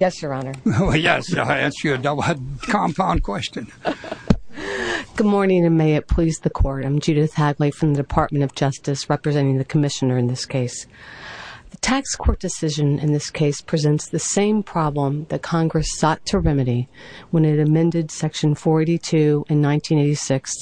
Yes, Your Honor. Well, yes, I'll answer your doublehead compound question. Good morning, and may it please the Court. I'm Judith Hadley from the Department of Justice, representing the Commissioner in this case. The tax court decision in this case presents the same problem that Congress sought to remedy when it amended Section 482 in 1986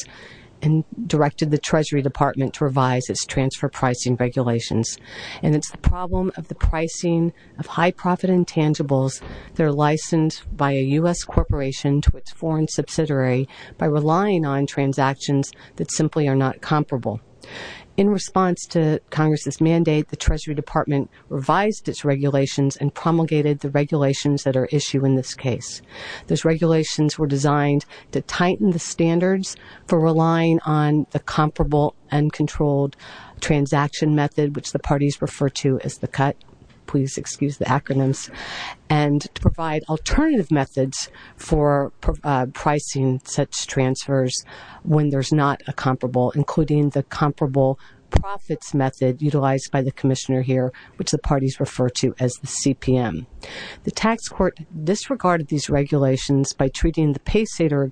and directed the Treasury Department to revise its transfer pricing regulations. And it's the problem of the pricing of high-profit intangibles that are licensed by a U.S. corporation to its foreign subsidiary by relying on transactions that simply are not comparable. In response to Congress's mandate, the Treasury Department revised its regulations and promulgated the regulations that are at issue in this case. Those regulations were designed to tighten the standards for relying on the comparable uncontrolled transaction method, which the parties refer to as the CUT, please excuse the acronyms, and to provide alternative methods for pricing such transfers when there's not a comparable, including the comparable profits method utilized by the Commissioner here, which the parties refer to as the CPM. The tax court disregarded these regulations by treating the paysetter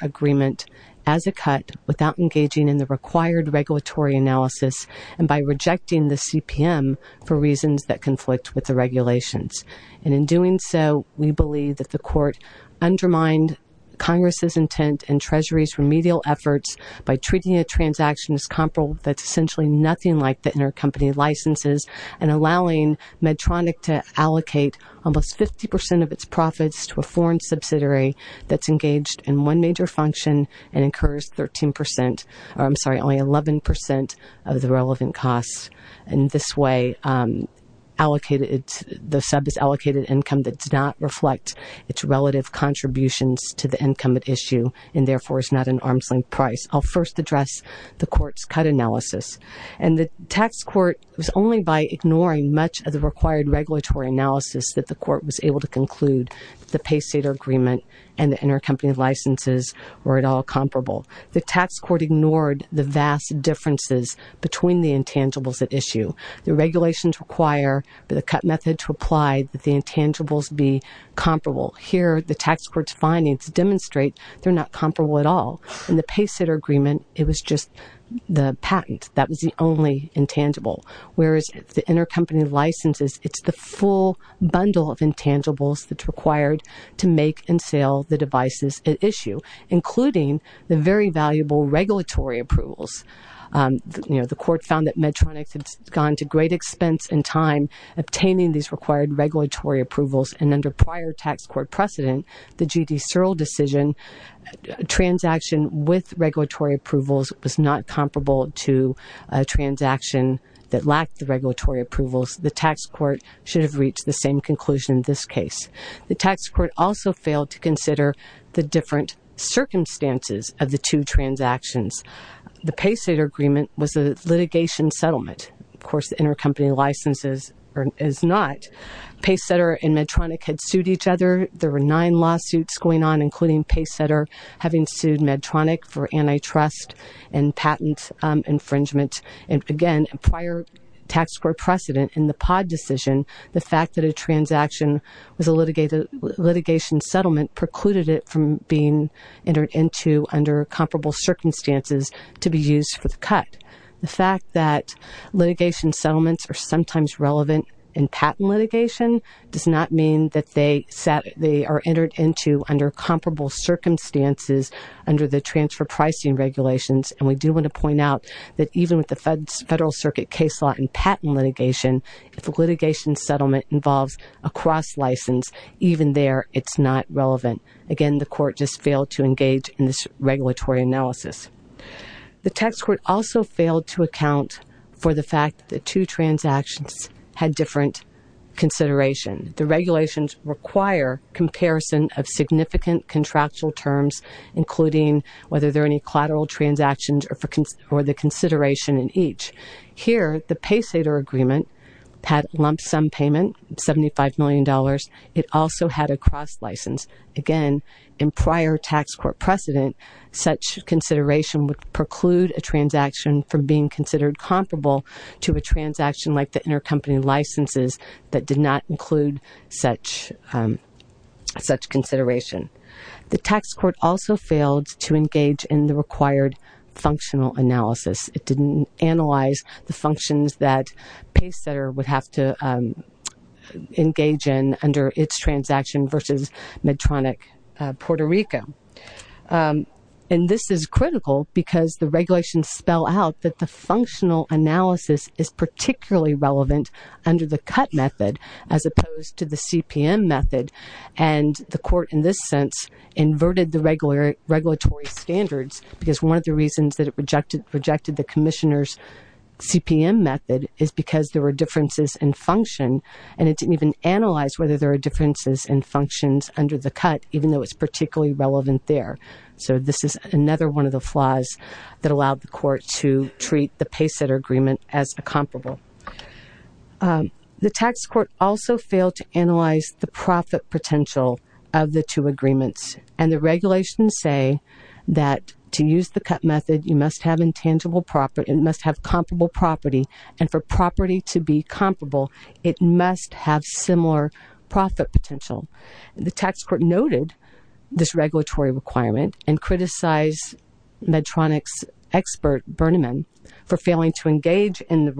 agreement as a CUT without engaging in the required regulatory analysis and by rejecting the CPM for reasons that conflict with the regulations. And in doing so, we believe that the court undermined Congress's intent and Treasury's remedial efforts by treating a transaction as comparable that's essentially nothing like the intercompany licenses and allowing Medtronic to allocate almost 50 percent of its profits to a foreign subsidiary that's engaged in one major function and incurs 13 percent, or I'm sorry, only 11 percent of the relevant costs. In this way, the sub is allocated income that does not reflect its relative contributions to the income at issue and therefore is not an arm's length price. I'll first address the court's CUT analysis. And the tax court was only by ignoring much of the required regulatory analysis that the court was able to conclude that the paysetter agreement and the intercompany licenses were at all comparable. The tax court ignored the vast differences between the intangibles at issue. The regulations require the CUT method to apply that the intangibles be comparable. Here, the tax court's findings demonstrate they're not comparable at all. In the paysetter agreement, it was just the patent that was the only intangible, whereas the intercompany licenses, it's the full bundle of intangibles that's required to make and sell the devices at issue, including the very valuable regulatory approvals. The court found that Medtronic had gone to great expense and time obtaining these required regulatory approvals, and under prior tax court precedent, the G.D. Searle decision, a transaction with regulatory approvals was not comparable to a transaction that lacked the regulatory approvals. The tax court should have reached the same conclusion in this case. The tax court also failed to consider the different circumstances of the two transactions. The paysetter agreement was a litigation settlement. Of course, the intercompany licenses is not. Paysetter and Medtronic had sued each other. There were nine lawsuits going on, including paysetter having sued Medtronic for antitrust and patent infringement, and again, prior tax court precedent in the POD decision, the fact that a transaction was a litigation settlement precluded it from being entered into under comparable circumstances to be used for the cut. The fact that litigation settlements are sometimes relevant in patent litigation does not mean that they are entered into under comparable circumstances under the transfer pricing regulations, and we do want to point out that even with the Federal Circuit case law and patent litigation, if a litigation settlement involves a cross license, even there, it's not relevant. Again, the court just failed to engage in this regulatory analysis. The tax court also failed to account for the fact that two transactions had different consideration. The regulations require comparison of significant contractual terms, including whether there are any collateral transactions or the consideration in each. Here, the paysetter agreement had lump sum payment of $75 million. It also had a cross license. Again, in prior tax court precedent, such consideration would preclude a transaction from being considered comparable to a transaction like the intercompany licenses that did not include such consideration. The tax court also failed to engage in the required functional analysis. It didn't analyze the functions that paysetter would have to engage in under its transaction versus Medtronic Puerto Rico. And this is critical because the regulations spell out that the functional analysis is particularly relevant under the cut method as opposed to the CPM method, and the court, in this sense, inverted the regulatory standards because one of the reasons that it rejected the commissioner's CPM method is because there were differences in function, and it didn't even analyze whether there were differences in functions under the cut, even though it's particularly relevant there. So this is another one of the flaws that allowed the court to treat the paysetter agreement as a comparable. The tax court also failed to analyze the profit potential of the two agreements, and the regulations say that to use the cut method, you must have intangible property. It must have comparable property, and for property to be comparable, it must have similar profit potential. The tax court noted this regulatory requirement and criticized Medtronic's expert, Burniman, for failing to engage in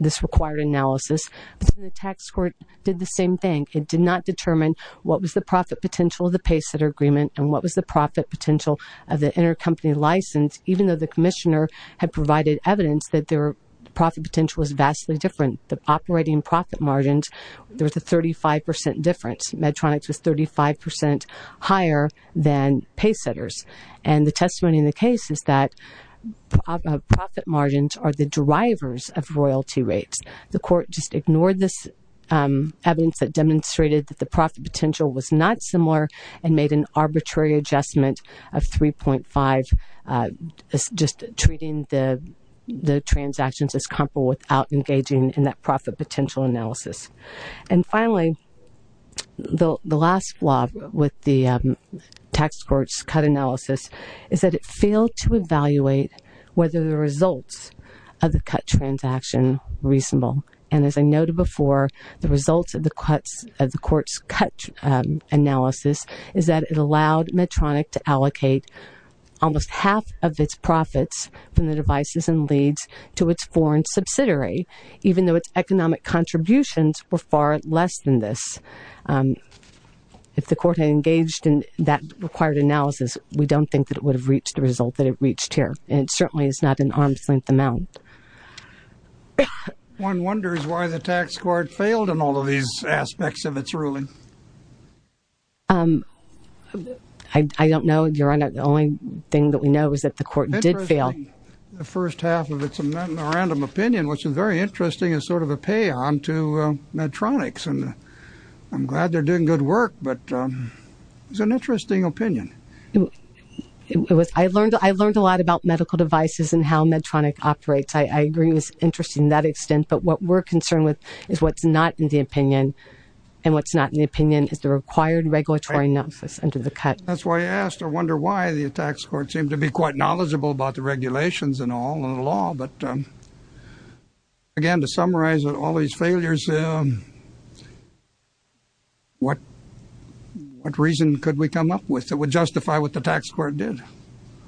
this required analysis. The tax court did the same thing. It did not determine what was the profit potential of the paysetter agreement and what was the profit potential of the intercompany license, even though the commissioner had provided evidence that their profit potential was vastly different. The operating profit margins, there was a 35% difference. Medtronic's was 35% higher than paysetter's, and the testimony in the case is that profit margins are the drivers of royalty rates. The court just ignored this evidence that demonstrated that the profit potential was not similar and made an arbitrary adjustment of 3.5, just treating the transactions as comparable without engaging in that profit potential analysis. And finally, the last flaw with the tax court's cut analysis is that it failed to evaluate whether the results of the cut transaction were reasonable. And as I noted before, the results of the court's cut analysis is that it allowed Medtronic to allocate almost half of its profits from the devices and leads to its foreign subsidiary, even though its economic contributions were far less than this. If the court had engaged in that required analysis, we don't think that it would have reached the result that it reached here, and it certainly is not an arm's length amount. One wonders why the tax court failed in all of these aspects of its ruling. I don't know, Your Honor. The only thing that we know is that the court did fail. The first half of its random opinion, which is very interesting, is sort of a pay-on to Medtronic's. And I'm glad they're doing good work, but it's an interesting opinion. I learned a lot about medical devices and how Medtronic operates. I agree it was interesting in that extent, but what we're concerned with is what's not in the opinion, and what's not in the opinion is the required regulatory analysis under the cut. That's why I asked. I wonder why the tax court seemed to be quite knowledgeable about the regulations and all of the law. Again, to summarize all these failures, what reason could we come up with that would justify what the tax court did?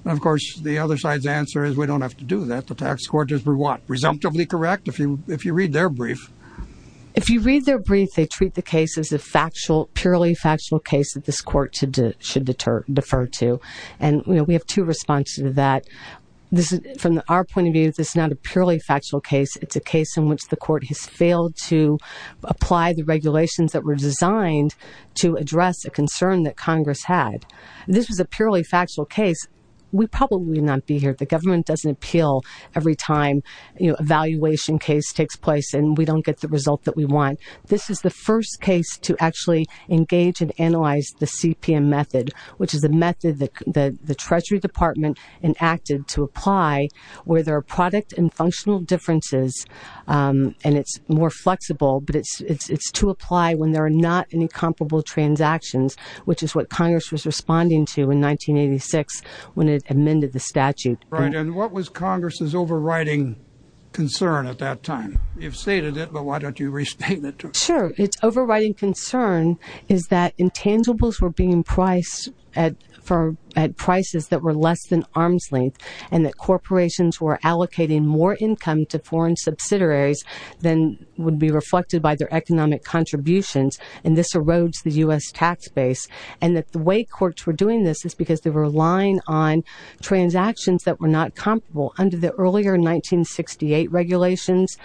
Of course, the other side's answer is we don't have to do that. The tax court is presumptively correct if you read their brief. If you read their brief, they treat the case as a purely factual case that this court should defer to. And we have two responses to that. From our point of view, this is not a purely factual case. It's a case in which the court has failed to apply the regulations that were designed to address a concern that Congress had. This was a purely factual case. We'd probably not be here if the government doesn't appeal every time a valuation case takes place and we don't get the result that we want. This is the first case to actually engage and analyze the CPM method, which is a method that the Treasury Department enacted to apply where there are product and functional differences. And it's more flexible, but it's to apply when there are not any comparable transactions, which is what Congress was responding to in 1986 when it amended the statute. Right. And what was Congress's overriding concern at that time? You've stated it, but why don't you restate it? Sure. Its overriding concern is that intangibles were being priced at prices that were less than arm's length and that corporations were allocating more income to foreign subsidiaries than would be reflected by their economic contributions. And this erodes the U.S. tax base. And that the way courts were doing this is because they were relying on transactions that were not comparable. Under the earlier 1968 regulations,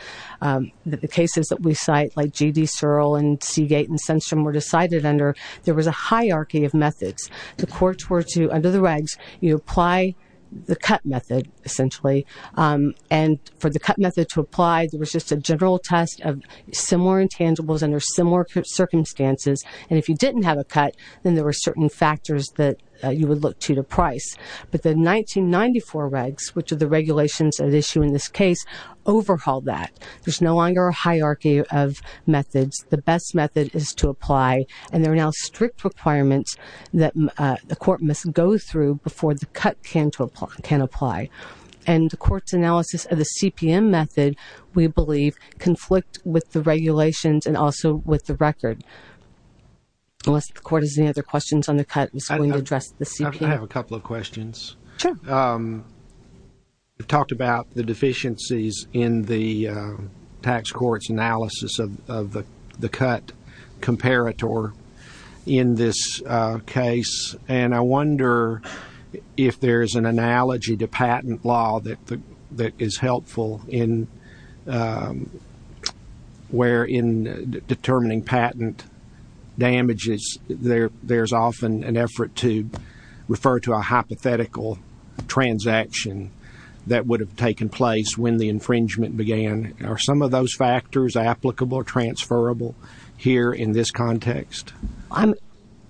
the cases that we cite like G.D. Searle and Seagate and Sundstrom were decided under, there was a hierarchy of methods. The courts were to, under the regs, you apply the cut method, essentially. And for the cut method to apply, there was just a general test of similar intangibles under similar circumstances. And if you didn't have a cut, then there were certain factors that you would look to to price. But the 1994 regs, which are the regulations at issue in this case, overhauled that. There's no longer a hierarchy of methods. The best method is to apply. And there are now strict requirements that the court must go through before the cut can apply. And the court's analysis of the CPM method, we believe, conflict with the regulations and also with the record. Unless the court has any other questions on the cut that's going to address the CPM. I have a couple of questions. Sure. You talked about the deficiencies in the tax court's analysis of the cut comparator in this case. And I wonder if there's an analogy to patent law that is helpful in determining patent damages. There's often an effort to refer to a hypothetical transaction that would have taken place when the infringement began. Are some of those factors applicable or transferable here in this context? I'm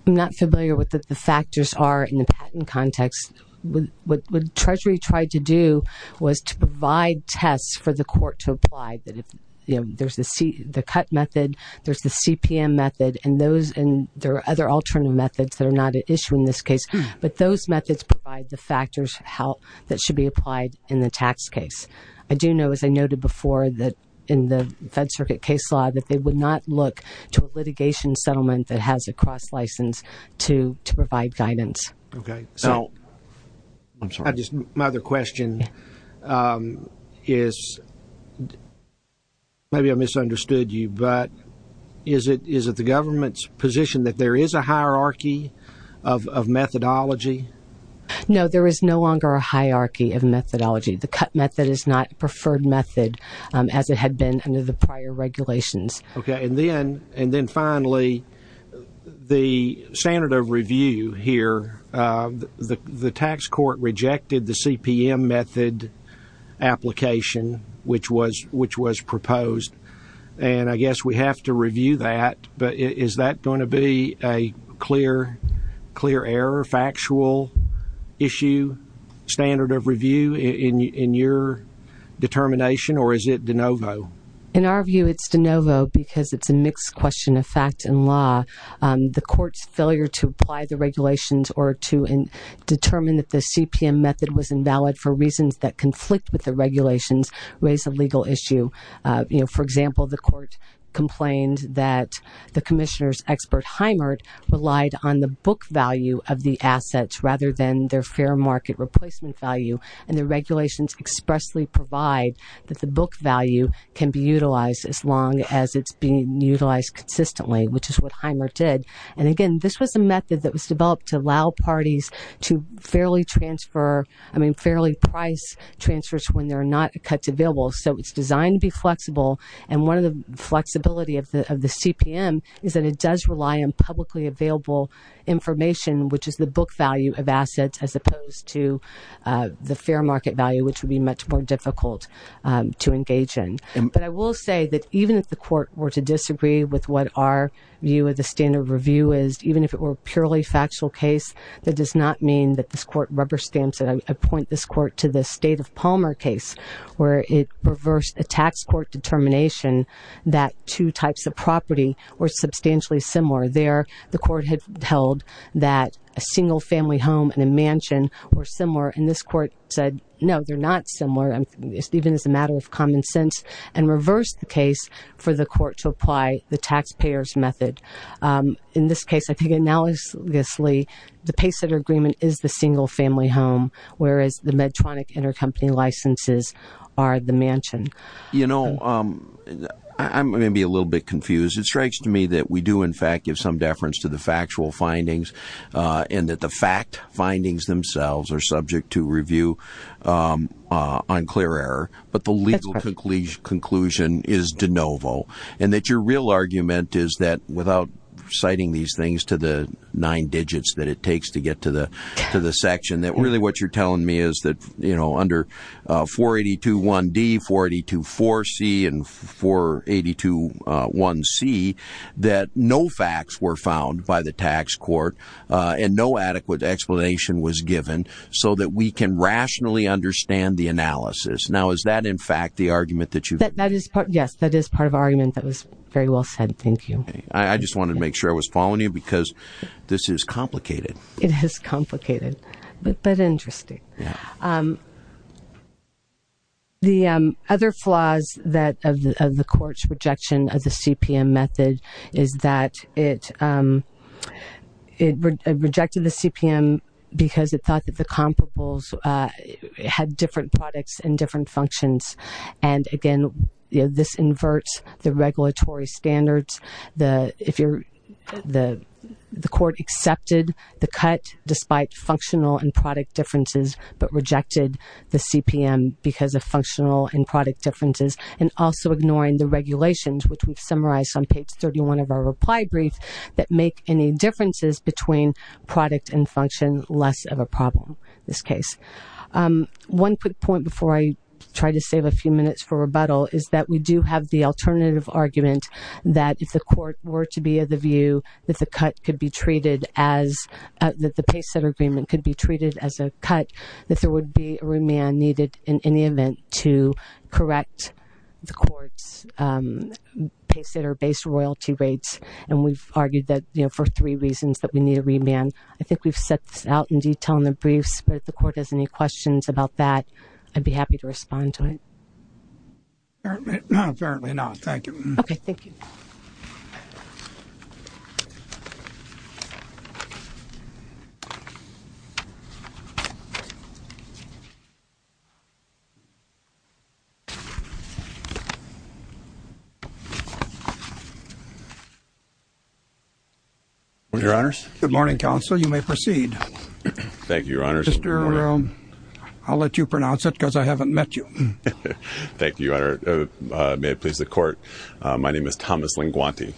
not familiar with what the factors are in the patent context. What Treasury tried to do was to provide tests for the court to apply. There's the cut method. There's the CPM method. And there are other alternative methods that are not at issue in this case. But those methods provide the factors that should be applied in the tax case. I do know, as I noted before, that in the Fed Circuit case law, that they would not look to a litigation settlement that has a cross license to provide guidance. Okay. My other question is, maybe I misunderstood you, but is it the government's position that there is a hierarchy of methodology? No, there is no longer a hierarchy of methodology. The cut method is not a preferred method as it had been under the prior regulations. Okay. And then finally, the standard of review here, the tax court rejected the CPM method application, which was proposed. And I guess we have to review that. But is that going to be a clear error, factual issue, standard of review in your determination? Or is it de novo? In our view, it's de novo because it's a mixed question of fact and law. The court's failure to apply the regulations or to determine that the CPM method was invalid for reasons that conflict with the regulations raise a legal issue. For example, the court complained that the commissioner's expert, Heimert, relied on the book value of the assets rather than their fair market replacement value. And the regulations expressly provide that the book value can be utilized as long as it's being utilized consistently, which is what Heimert did. And again, this was a method that was developed to allow parties to fairly transfer, I mean fairly price transfers when there are not cuts available. So it's designed to be flexible, and one of the flexibility of the CPM is that it does rely on publicly available information, which is the book value of assets as opposed to the fair market value, which would be much more difficult to engage in. But I will say that even if the court were to disagree with what our view of the standard of review is, even if it were a purely factual case, that does not mean that this court rubber stamps it. I point this court to the State of Palmer case where it reversed a tax court determination that two types of property were substantially similar. There, the court had held that a single family home and a mansion were similar, and this court said, no, they're not similar, even as a matter of common sense, and reversed the case for the court to apply the taxpayer's method. In this case, I think analogously, the paysetter agreement is the single family home, whereas the Medtronic intercompany licenses are the mansion. You know, I'm going to be a little bit confused. It strikes to me that we do, in fact, give some deference to the factual findings and that the fact findings themselves are subject to review on clear error, but the legal conclusion is de novo. And that your real argument is that without citing these things to the nine digits that it takes to get to the section, that really what you're telling me is that, you know, under 482.1d, 482.4c, and 482.1c, that no facts were found by the tax court and no adequate explanation was given so that we can rationally understand the analysis. Now, is that, in fact, the argument that you've made? Yes, that is part of the argument that was very well said. Thank you. I just wanted to make sure I was following you because this is complicated. It is complicated, but interesting. The other flaws of the court's rejection of the CPM method is that it rejected the CPM because it thought that the comparables had different products and different functions, and, again, this inverts the regulatory standards. The court accepted the cut despite functional and product differences but rejected the CPM because of functional and product differences and also ignoring the regulations, which we've summarized on page 31 of our reply brief, that make any differences between product and function less of a problem in this case. One quick point before I try to save a few minutes for rebuttal is that we do have the alternative argument that if the court were to be of the view that the cut could be treated as the paysetter agreement could be treated as a cut, that there would be a remand needed in any event to correct the court's paysetter-based royalty rates, and we've argued that for three reasons that we need a remand. I think we've set this out in detail in the briefs, but if the court has any questions about that, I'd be happy to respond to it. Apparently not. Thank you. Okay. Thank you. Thank you, Your Honors. Good morning, Counsel. You may proceed. Thank you, Your Honors. I'll let you pronounce it because I haven't met you. Thank you, Your Honor. May it please the court. My name is Thomas Linguanti.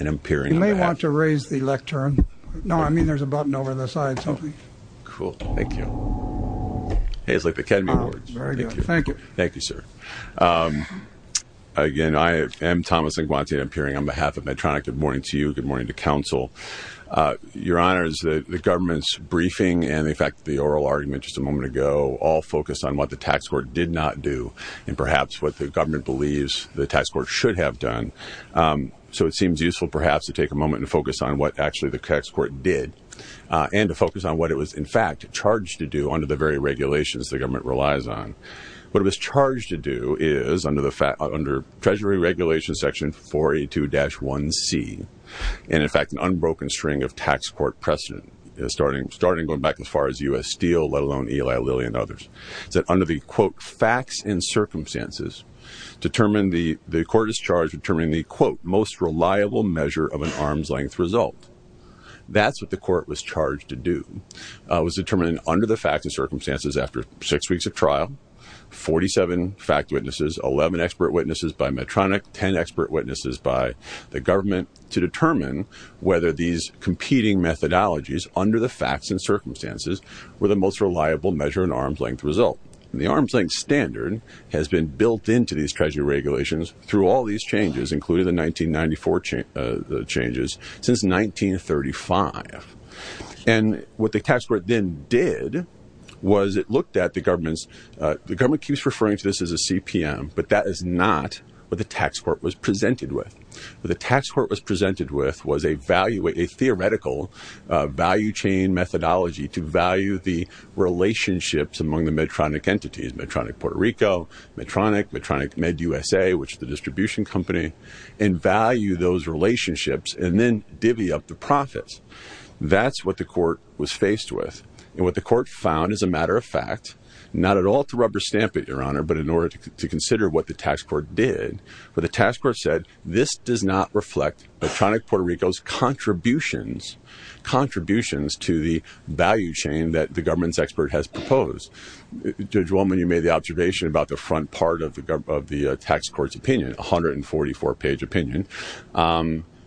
You may want to raise the lectern. No, I mean there's a button over on the side. Cool. Thank you. Hey, it's like the Academy Awards. Very good. Thank you. Thank you, sir. Again, I am Thomas Linguanti, and I'm appearing on behalf of Medtronic. Good morning to you. Good morning to Counsel. Your Honors, the government's briefing and, in fact, the oral argument just a moment ago all focused on what the tax court did not do and perhaps what the government believes the tax court should have done. So it seems useful, perhaps, to take a moment and focus on what actually the tax court did and to focus on what it was, in fact, charged to do under the very regulations the government relies on. What it was charged to do is, under Treasury Regulation Section 482-1C, and, in fact, an unbroken string of tax court precedent starting going back as far as U.S. Steel, let alone Eli Lilly and others, is that under the, quote, facts and circumstances, the court is charged with determining the, quote, most reliable measure of an arm's-length result. That's what the court was charged to do. It was determined under the facts and circumstances after six weeks of trial, 47 fact witnesses, 11 expert witnesses by Medtronic, 10 expert witnesses by the government, to determine whether these competing methodologies under the facts and circumstances were the most reliable measure of an arm's-length result. The arm's-length standard has been built into these Treasury regulations through all these changes, including the 1994 changes, since 1935. And what the tax court then did was it looked at the government's, the government keeps referring to this as a CPM, but that is not what the tax court was presented with. What the tax court was presented with was a value, a theoretical value chain methodology to value the relationships among the Medtronic entities, Medtronic Puerto Rico, Medtronic, Medtronic MedUSA, which is the distribution company, and value those relationships and then divvy up the profits. That's what the court was faced with. And what the court found, as a matter of fact, not at all to rubber stamp it, Your Honor, but in order to consider what the tax court did, what the tax court said, this does not reflect Medtronic Puerto Rico's contributions, contributions to the value chain that the government's expert has proposed. Judge Wolman, you made the observation about the front part of the tax court's opinion, 144-page opinion,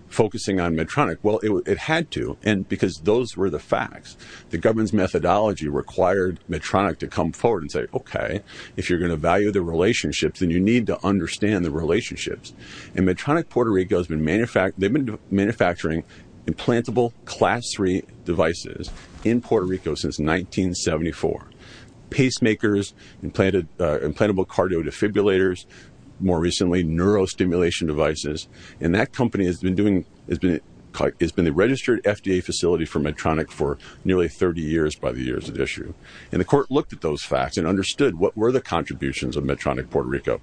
focusing on Medtronic. Well, it had to, because those were the facts. The government's methodology required Medtronic to come forward and say, OK, if you're going to value the relationships, then you need to understand the relationships. And Medtronic Puerto Rico has been manufacturing implantable class 3 devices in Puerto Rico since 1974. Pacemakers, implantable cardio defibrillators, more recently, neurostimulation devices. And that company has been the registered FDA facility for Medtronic for nearly 30 years by the years at issue. And the court looked at those facts and understood what were the contributions of Medtronic Puerto Rico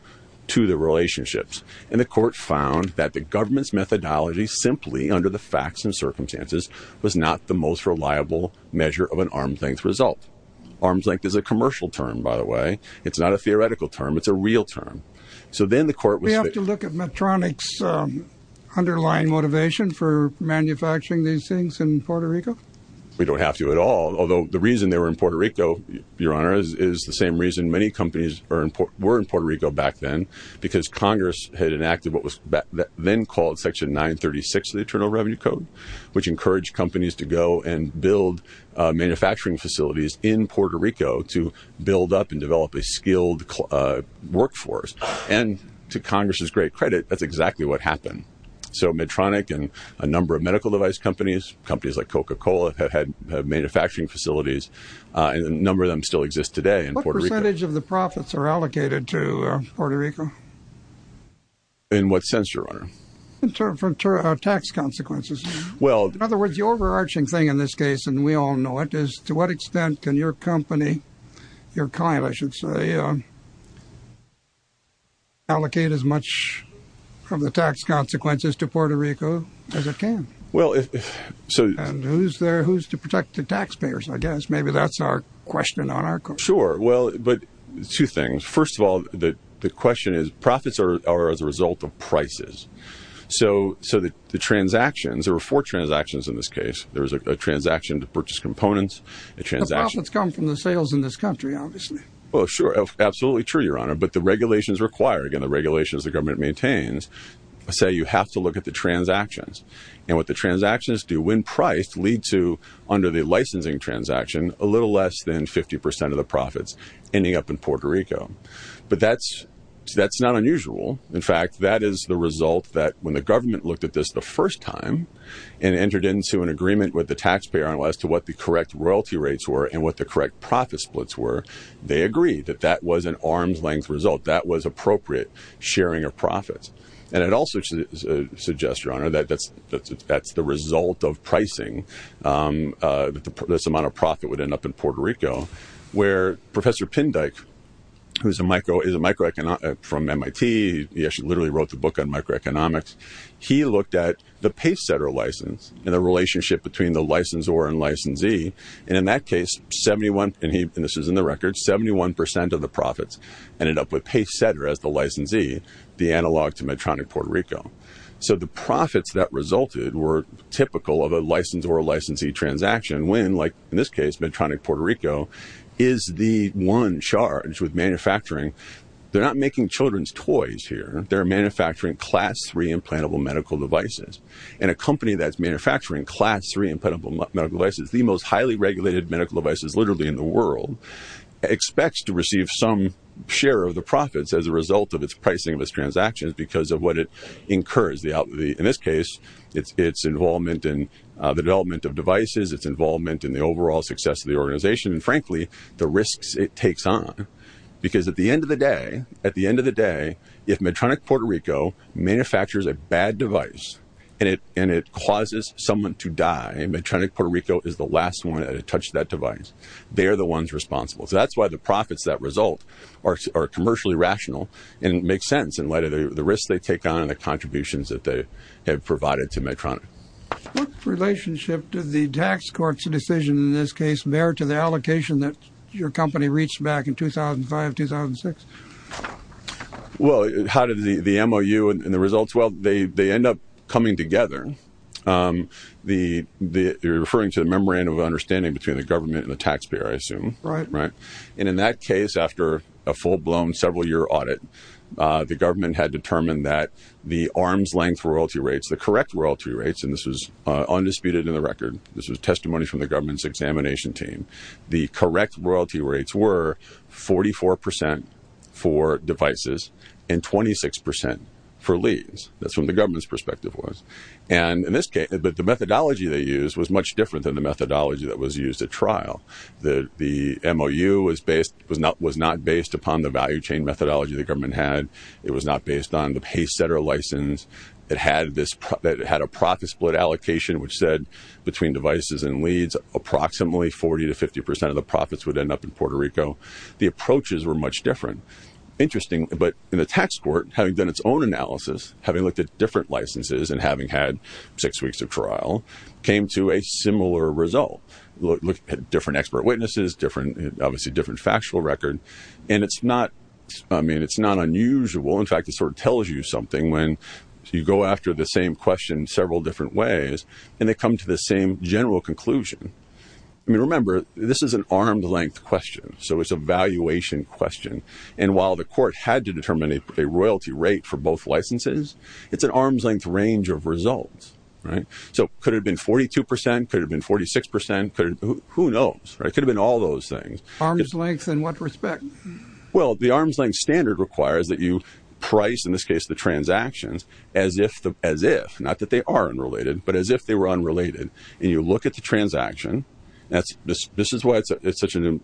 to the relationships. And the court found that the government's methodology simply, under the facts and circumstances, was not the most reliable measure of an arm's length result. Arm's length is a commercial term, by the way. It's not a theoretical term. It's a real term. So then the court was— Do we have to look at Medtronic's underlying motivation for manufacturing these things in Puerto Rico? We don't have to at all, although the reason they were in Puerto Rico, Your Honor, is the same reason many companies were in Puerto Rico back then, because Congress had enacted what was then called Section 936 of the Internal Revenue Code, which encouraged companies to go and build manufacturing facilities in Puerto Rico to build up and develop a skilled workforce. And to Congress's great credit, that's exactly what happened. So Medtronic and a number of medical device companies, companies like Coca-Cola, have had manufacturing facilities, and a number of them still exist today in Puerto Rico. What percentage of the profits are allocated to Puerto Rico? In what sense, Your Honor? In terms of tax consequences. Well— In other words, the overarching thing in this case, and we all know it, is to what extent can your company, your client, I should say, allocate as much of the tax consequences to Puerto Rico as it can? Well, if— And who's there, who's to protect the taxpayers, I guess? Maybe that's our question on our court. Sure. Well, but two things. First of all, the question is profits are as a result of prices. So the transactions, there were four transactions in this case. There was a transaction to purchase components, a transaction— Well, sure, absolutely true, Your Honor. But the regulations require, again, the regulations the government maintains, say you have to look at the transactions. And what the transactions do, when priced, lead to, under the licensing transaction, a little less than 50 percent of the profits ending up in Puerto Rico. But that's not unusual. In fact, that is the result that when the government looked at this the first time and entered into an agreement with the taxpayer as to what the correct royalty rates were and what the correct profit splits were, they agreed that that was an arm's-length result. That was appropriate sharing of profits. And I'd also suggest, Your Honor, that that's the result of pricing, that this amount of profit would end up in Puerto Rico, where Professor Pindyke, who is a micro—from MIT, he actually literally wrote the book on microeconomics. He looked at the paysetter license and the relationship between the licensor and licensee. And in that case, 71—and this is in the record—71 percent of the profits ended up with paysetter as the licensee, the analog to Medtronic Puerto Rico. So the profits that resulted were typical of a licensor-licensee transaction, when, like in this case, Medtronic Puerto Rico is the one charge with manufacturing. They're not making children's toys here. They're manufacturing class-three implantable medical devices. And a company that's manufacturing class-three implantable medical devices, the most highly regulated medical devices literally in the world, expects to receive some share of the profits as a result of its pricing of its transactions because of what it incurs. In this case, it's its involvement in the development of devices, it's involvement in the overall success of the organization, and frankly, the risks it takes on. Because at the end of the day, if Medtronic Puerto Rico manufactures a bad device and it causes someone to die, Medtronic Puerto Rico is the last one to touch that device. They're the ones responsible. So that's why the profits that result are commercially rational and make sense in light of the risks they take on What relationship did the tax court's decision, in this case, bear to the allocation that your company reached back in 2005-2006? Well, how did the MOU and the results? Well, they end up coming together. You're referring to the membrane of understanding between the government and the taxpayer, I assume. Right. And in that case, after a full-blown, several-year audit, the government had determined that the arm's-length royalty rates, the correct royalty rates, and this was undisputed in the record, this was testimony from the government's examination team, the correct royalty rates were 44% for devices and 26% for leads. That's what the government's perspective was. But the methodology they used was much different than the methodology that was used at trial. The MOU was not based upon the value-chain methodology the government had. It was not based on the pay-setter license. It had a profit-split allocation, which said between devices and leads, approximately 40% to 50% of the profits would end up in Puerto Rico. The approaches were much different. Interesting, but in the tax court, having done its own analysis, having looked at different licenses and having had six weeks of trial, came to a similar result. Looked at different expert witnesses, obviously different factual record, and it's not unusual. In fact, it sort of tells you something when you go after the same question several different ways and they come to the same general conclusion. I mean, remember, this is an arm's-length question, so it's a valuation question. And while the court had to determine a royalty rate for both licenses, it's an arm's-length range of results. So could it have been 42%? Could it have been 46%? Who knows? It could have been all those things. Arm's-length in what respect? Well, the arm's-length standard requires that you price, in this case, the transactions as if. Not that they are unrelated, but as if they were unrelated. And you look at the transaction. This is why it's such an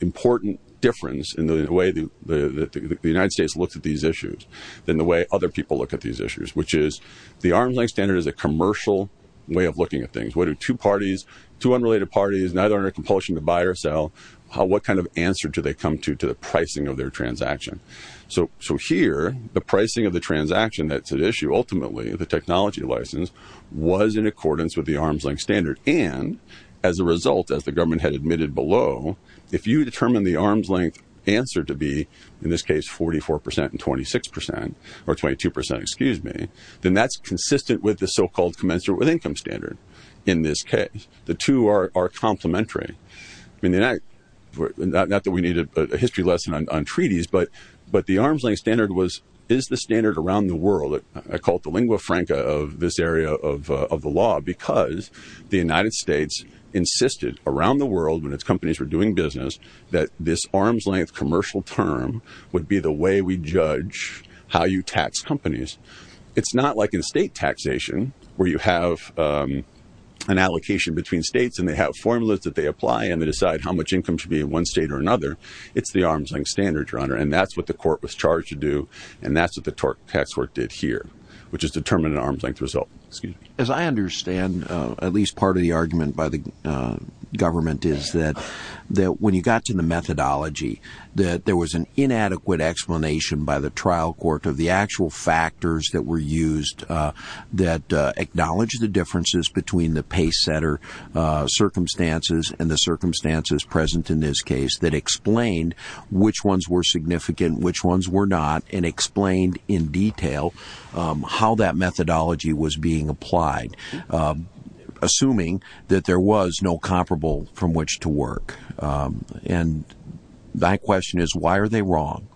important difference in the way the United States looks at these issues than the way other people look at these issues, which is the arm's-length standard is a commercial way of looking at things. What do two unrelated parties, neither under compulsion to buy or sell, what kind of answer do they come to to the pricing of their transaction? So here, the pricing of the transaction that's at issue ultimately, the technology license, was in accordance with the arm's-length standard. And as a result, as the government had admitted below, if you determine the arm's-length answer to be, in this case, 44% and 26%, or 22%, excuse me, then that's consistent with the so-called commensurate with income standard in this case. The two are complementary. Not that we need a history lesson on treaties, but the arm's-length standard is the standard around the world. I call it the lingua franca of this area of the law because the United States insisted around the world when its companies were doing business that this arm's-length commercial term would be the way we judge how you tax companies. It's not like in state taxation where you have an allocation between states and they have formulas that they apply and they decide how much income should be in one state or another. It's the arm's-length standard, Your Honor, and that's what the court was charged to do, and that's what the tax court did here, which is determine an arm's-length result. As I understand, at least part of the argument by the government is that when you got to the methodology, that there was an inadequate explanation by the trial court of the actual factors that were used that acknowledged the differences between the pace-setter circumstances and the circumstances present in this case that explained which ones were significant, which ones were not, and explained in detail how that methodology was being applied, assuming that there was no comparable from which to work. And my question is, why are they wrong?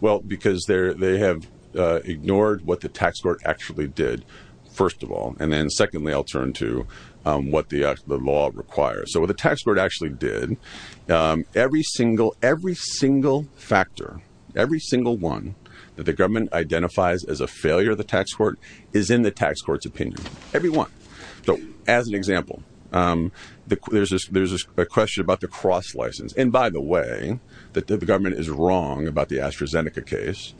Well, because they have ignored what the tax court actually did, first of all. And then secondly, I'll turn to what the law requires. So what the tax court actually did, every single factor, every single one that the government identifies as a failure of the tax court is in the tax court's opinion. Every one. So as an example, there's a question about the cross license. And by the way, the government is wrong about the AstraZeneca case,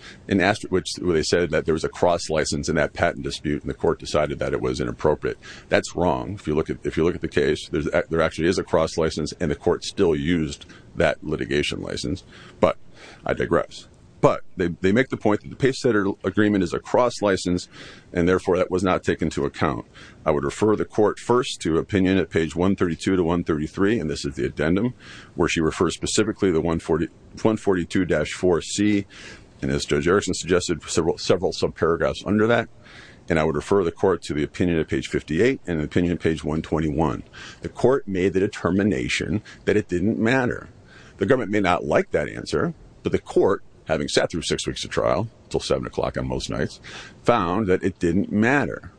where they said that there was a cross license in that patent dispute and the court decided that it was inappropriate. That's wrong. If you look at the case, there actually is a cross license, and the court still used that litigation license. But I digress. But they make the point that the pace-setter agreement is a cross license, and therefore that was not taken into account. I would refer the court first to opinion at page 132 to 133, and this is the addendum, where she refers specifically to 142-4C, and as Judge Erickson suggested, several subparagraphs under that. And I would refer the court to the opinion at page 58 and the opinion at page 121. The court made the determination that it didn't matter. The government may not like that answer, but the court, having sat through six weeks of trial, until 7 o'clock on most nights, found that it didn't matter.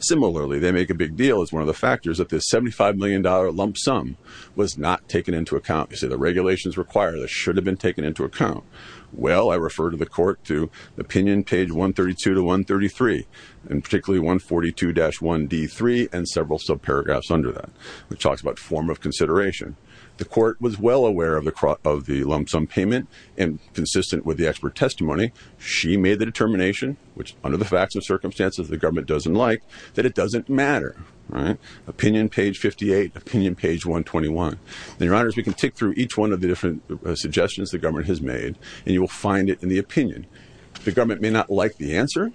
Similarly, they make a big deal as one of the factors that this $75 million lump sum was not taken into account. They say the regulations require that it should have been taken into account. Well, I refer to the court to opinion page 132 to 133, and particularly 142-1D3 and several subparagraphs under that, which talks about form of consideration. The court was well aware of the lump sum payment, and consistent with the expert testimony, she made the determination, which under the facts and circumstances the government doesn't like, that it doesn't matter. Opinion page 58, opinion page 121. And, Your Honors, we can tick through each one of the different suggestions the government has made, and you will find it in the opinion. The government may not like the answer,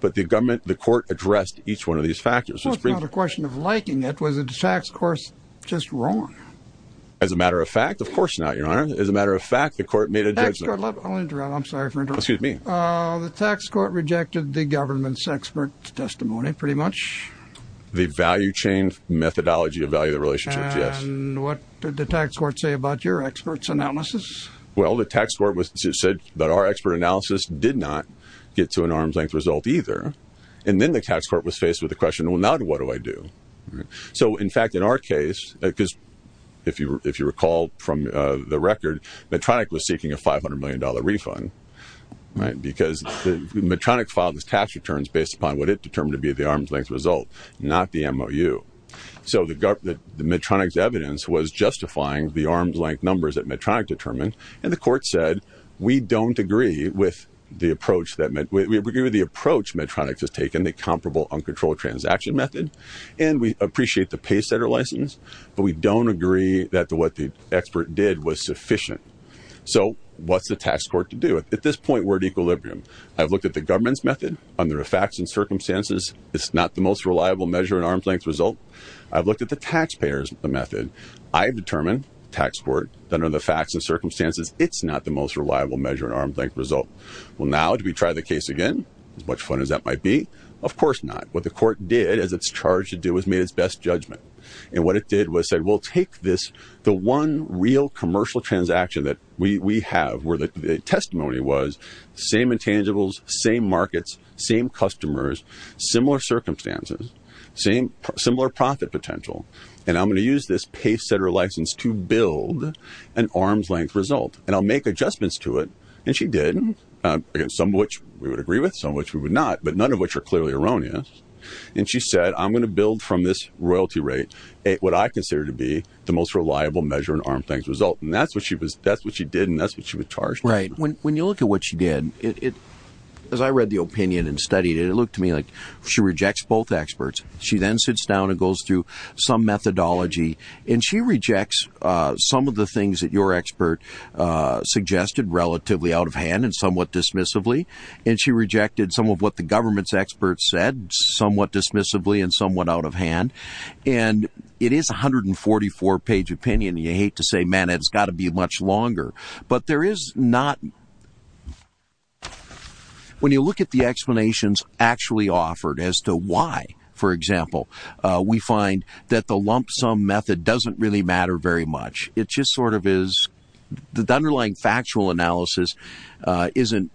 but the court addressed each one of these factors. It's not a question of liking it. Was the tax court just wrong? As a matter of fact, of course not, Your Honor. As a matter of fact, the court made a judgment. I'll interrupt. I'm sorry for interrupting. Excuse me. The tax court rejected the government's expert testimony, pretty much. The value chain methodology of value relationships, yes. And what did the tax court say about your expert's analysis? Well, the tax court said that our expert analysis did not get to an arm's-length result either. And then the tax court was faced with the question, well, now what do I do? So, in fact, in our case, because if you recall from the record, Medtronic was seeking a $500 million refund because Medtronic filed its tax returns based upon what it determined to be the arm's-length result, not the MOU. So Medtronic's evidence was justifying the arm's-length numbers that Medtronic determined, and the court said, we don't agree with the approach Medtronic has taken, the comparable uncontrolled transaction method, and we appreciate the paycenter license, but we don't agree that what the expert did was sufficient. So what's the tax court to do? At this point, we're at equilibrium. I've looked at the government's method. Under the facts and circumstances, it's not the most reliable measure in arm's-length result. I've looked at the taxpayers' method. I've determined, the tax court, that under the facts and circumstances, it's not the most reliable measure in arm's-length result. Well, now, do we try the case again, as much fun as that might be? Of course not. What the court did, as it's charged to do, is made its best judgment. And what it did was say, well, take this, the one real commercial transaction that we have, where the testimony was, same intangibles, same markets, same customers, similar circumstances, similar profit potential, and I'm going to use this paycenter license to build an arm's-length result. And I'll make adjustments to it. And she did, some of which we would agree with, some of which we would not, but none of which are clearly erroneous. And she said, I'm going to build from this royalty rate what I consider to be the most reliable measure in arm's-length result. And that's what she did, and that's what she was charged with. Right. When you look at what she did, as I read the opinion and studied it, it looked to me like she rejects both experts. She then sits down and goes through some methodology, and she rejects some of the things that your expert suggested relatively out of hand and somewhat dismissively. And she rejected some of what the government's experts said somewhat dismissively and somewhat out of hand. And it is a 144-page opinion. You hate to say, man, it's got to be much longer. But there is not. When you look at the explanations actually offered as to why, for example, we find that the lump sum method doesn't really matter very much. It just sort of is. The underlying factual analysis isn't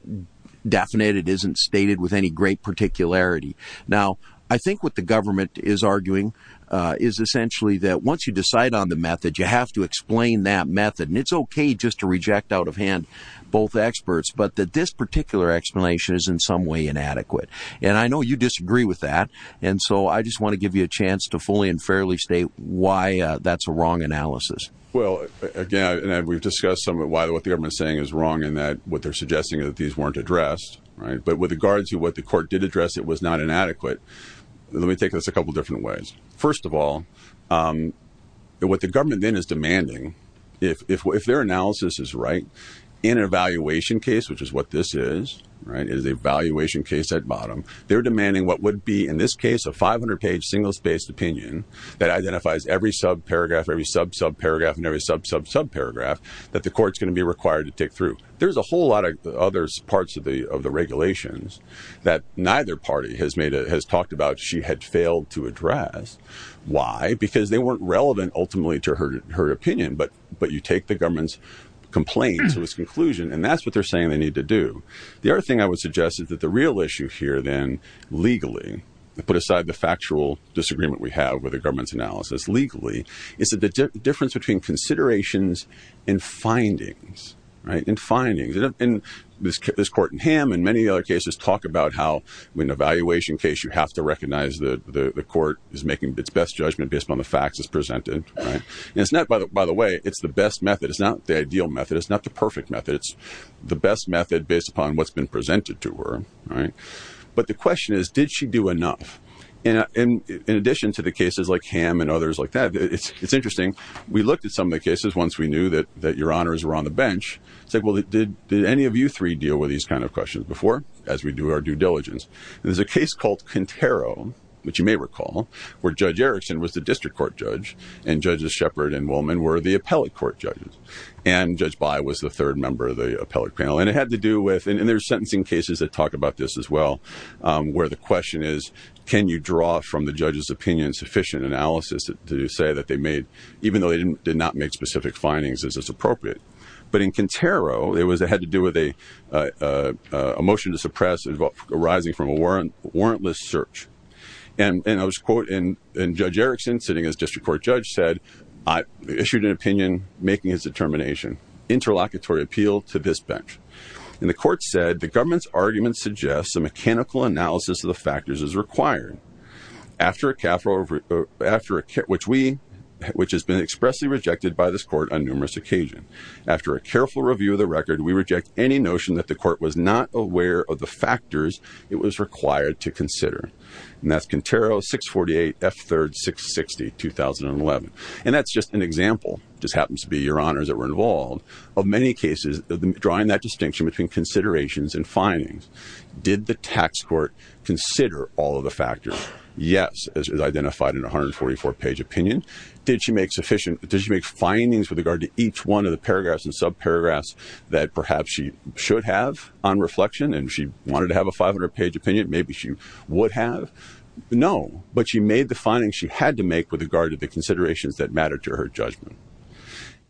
definite. It isn't stated with any great particularity. Now, I think what the government is arguing is essentially that once you decide on the method, you have to explain that method. And it's okay just to reject out of hand both experts, but that this particular explanation is in some way inadequate. And I know you disagree with that. And so I just want to give you a chance to fully and fairly state why that's a wrong analysis. Well, again, we've discussed some of what the government is saying is wrong and what they're suggesting is that these weren't addressed. But with regards to what the court did address, it was not inadequate. Let me take this a couple different ways. First of all, what the government then is demanding, if their analysis is right, in an evaluation case, which is what this is, right, is an evaluation case at bottom, they're demanding what would be, in this case, a 500-page single-spaced opinion that identifies every subparagraph, every sub-subparagraph, and every sub-sub-subparagraph that the court's going to be required to take through. There's a whole lot of other parts of the regulations that neither party has talked about she had failed to address. Why? Because they weren't relevant, ultimately, to her opinion. But you take the government's complaint to its conclusion, and that's what they're saying they need to do. The other thing I would suggest is that the real issue here, then, legally, put aside the factual disagreement we have with the government's analysis, legally, is that the difference between considerations and findings, and this court in Ham and many other cases talk about how, in an evaluation case, you have to recognize the court is making its best judgment based upon the facts it's presented. And it's not, by the way, it's the best method. It's not the ideal method. It's not the perfect method. It's the best method based upon what's been presented to her. But the question is, did she do enough? And in addition to the cases like Ham and others like that, it's interesting, we looked at some of the cases, once we knew that your honors were on the bench, said, well, did any of you three deal with these kind of questions before, as we do our due diligence? And there's a case called Contero, which you may recall, where Judge Erickson was the district court judge, and Judges Shepard and Woolman were the appellate court judges. And Judge By was the third member of the appellate panel. And it had to do with, and there's sentencing cases that talk about this as well, where the question is, can you draw from the judge's opinion sufficient analysis to say that they made, even though they did not make specific findings, is this appropriate? But in Contero, it had to do with a motion to suppress arising from a warrantless search. And I'll just quote, and Judge Erickson, sitting as district court judge, said, I issued an opinion making his determination, interlocutory appeal to this bench. And the court said, the government's argument suggests a mechanical analysis of the factors is required. After a, which we, which has been expressly rejected by this court on numerous occasions, after a careful review of the record, we reject any notion that the court was not aware of the factors it was required to consider. And that's Contero 648, F3, 660, 2011. And that's just an example, just happens to be your honors that were involved, of many cases, drawing that distinction between considerations and findings. Did the tax court consider all of the factors? Yes, as is identified in 144 page opinion. Did she make sufficient, did she make findings with regard to each one of the paragraphs and sub paragraphs that perhaps she should have on reflection and she wanted to have a 500 page opinion, maybe she would have? No, but she made the findings she had to make with regard to the considerations that matter to her judgment.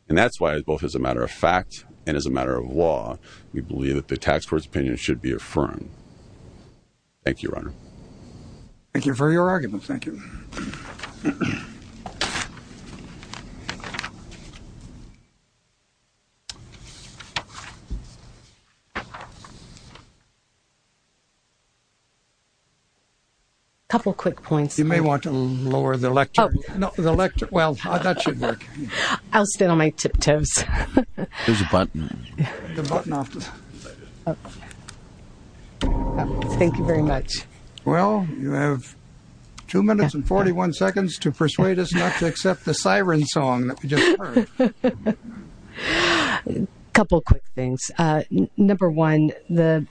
And that's why both as a matter of fact, and as a matter of law, we believe that the tax court's opinion should be affirmed. Thank you, Your Honor. Thank you for your argument, thank you. A couple quick points. You may want to lower the lecture. No, the lecture, well, that should work. I'll stand on my tiptoes. There's a button. The button off. Thank you very much. Well, you have two minutes and 41 seconds to persuade us not to accept the siren song that we just heard. A couple quick things. Number one, the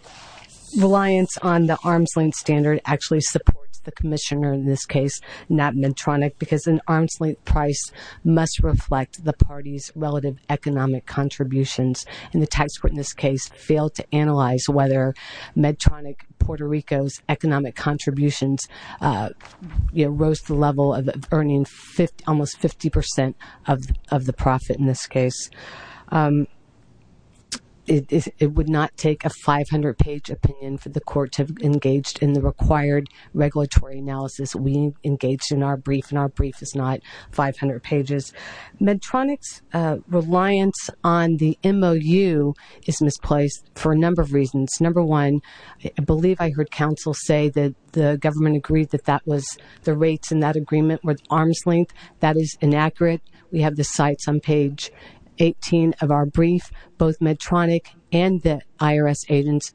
reliance on the arm's length standard actually supports the commissioner in this case, not Medtronic, because an arm's length price must reflect the party's relative economic contributions. And the tax court in this case failed to analyze whether Medtronic, Puerto Rico's economic contributions rose to the level of earning almost 50% of the profit in this case. It would not take a 500-page opinion for the court to have engaged in the required regulatory analysis. We engaged in our brief, and our brief is not 500 pages. Medtronic's reliance on the MOU is misplaced for a number of reasons. Number one, I believe I heard counsel say that the government agreed that that was the rates in that agreement were arm's length. That is inaccurate. We have the cites on page 18 of our brief. Both Medtronic and the IRS agents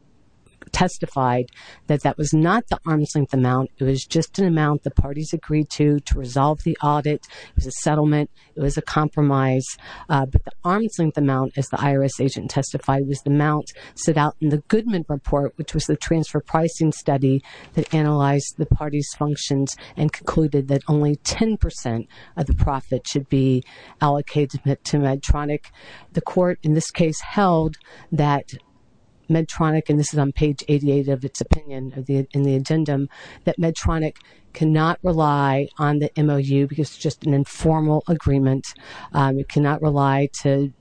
testified that that was not the arm's length amount. It was just an amount the parties agreed to to resolve the audit. It was a settlement. It was a compromise. But the arm's length amount, as the IRS agent testified, was the amount set out in the Goodman report, which was the transfer pricing study that analyzed the party's functions and concluded that only 10% of the profit should be allocated to Medtronic. The court in this case held that Medtronic, and this is on page 88 of its opinion in the agenda, that Medtronic cannot rely on the MOU because it's just an informal agreement. It cannot rely to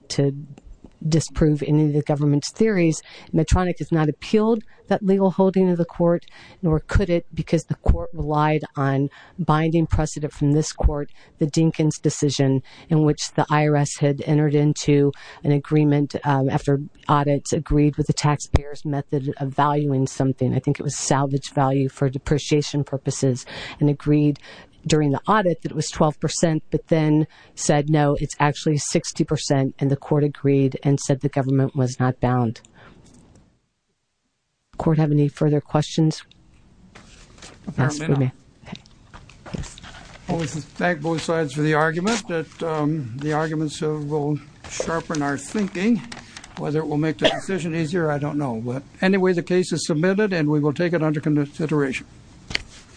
disprove any of the government's theories. Medtronic has not appealed that legal holding of the court, nor could it because the court relied on binding precedent from this court, the Dinkins decision, in which the IRS had entered into an agreement after audits agreed with the taxpayer's method of valuing something. I think it was salvage value for depreciation purposes and agreed during the audit that it was 12%, but then said, no, it's actually 60%, and the court agreed and said the government was not bound. Does the court have any further questions? If I may. I want to thank both sides for the argument, that the arguments will sharpen our thinking. Whether it will make the decision easier, I don't know. But anyway, the case is submitted, and we will take it under consideration.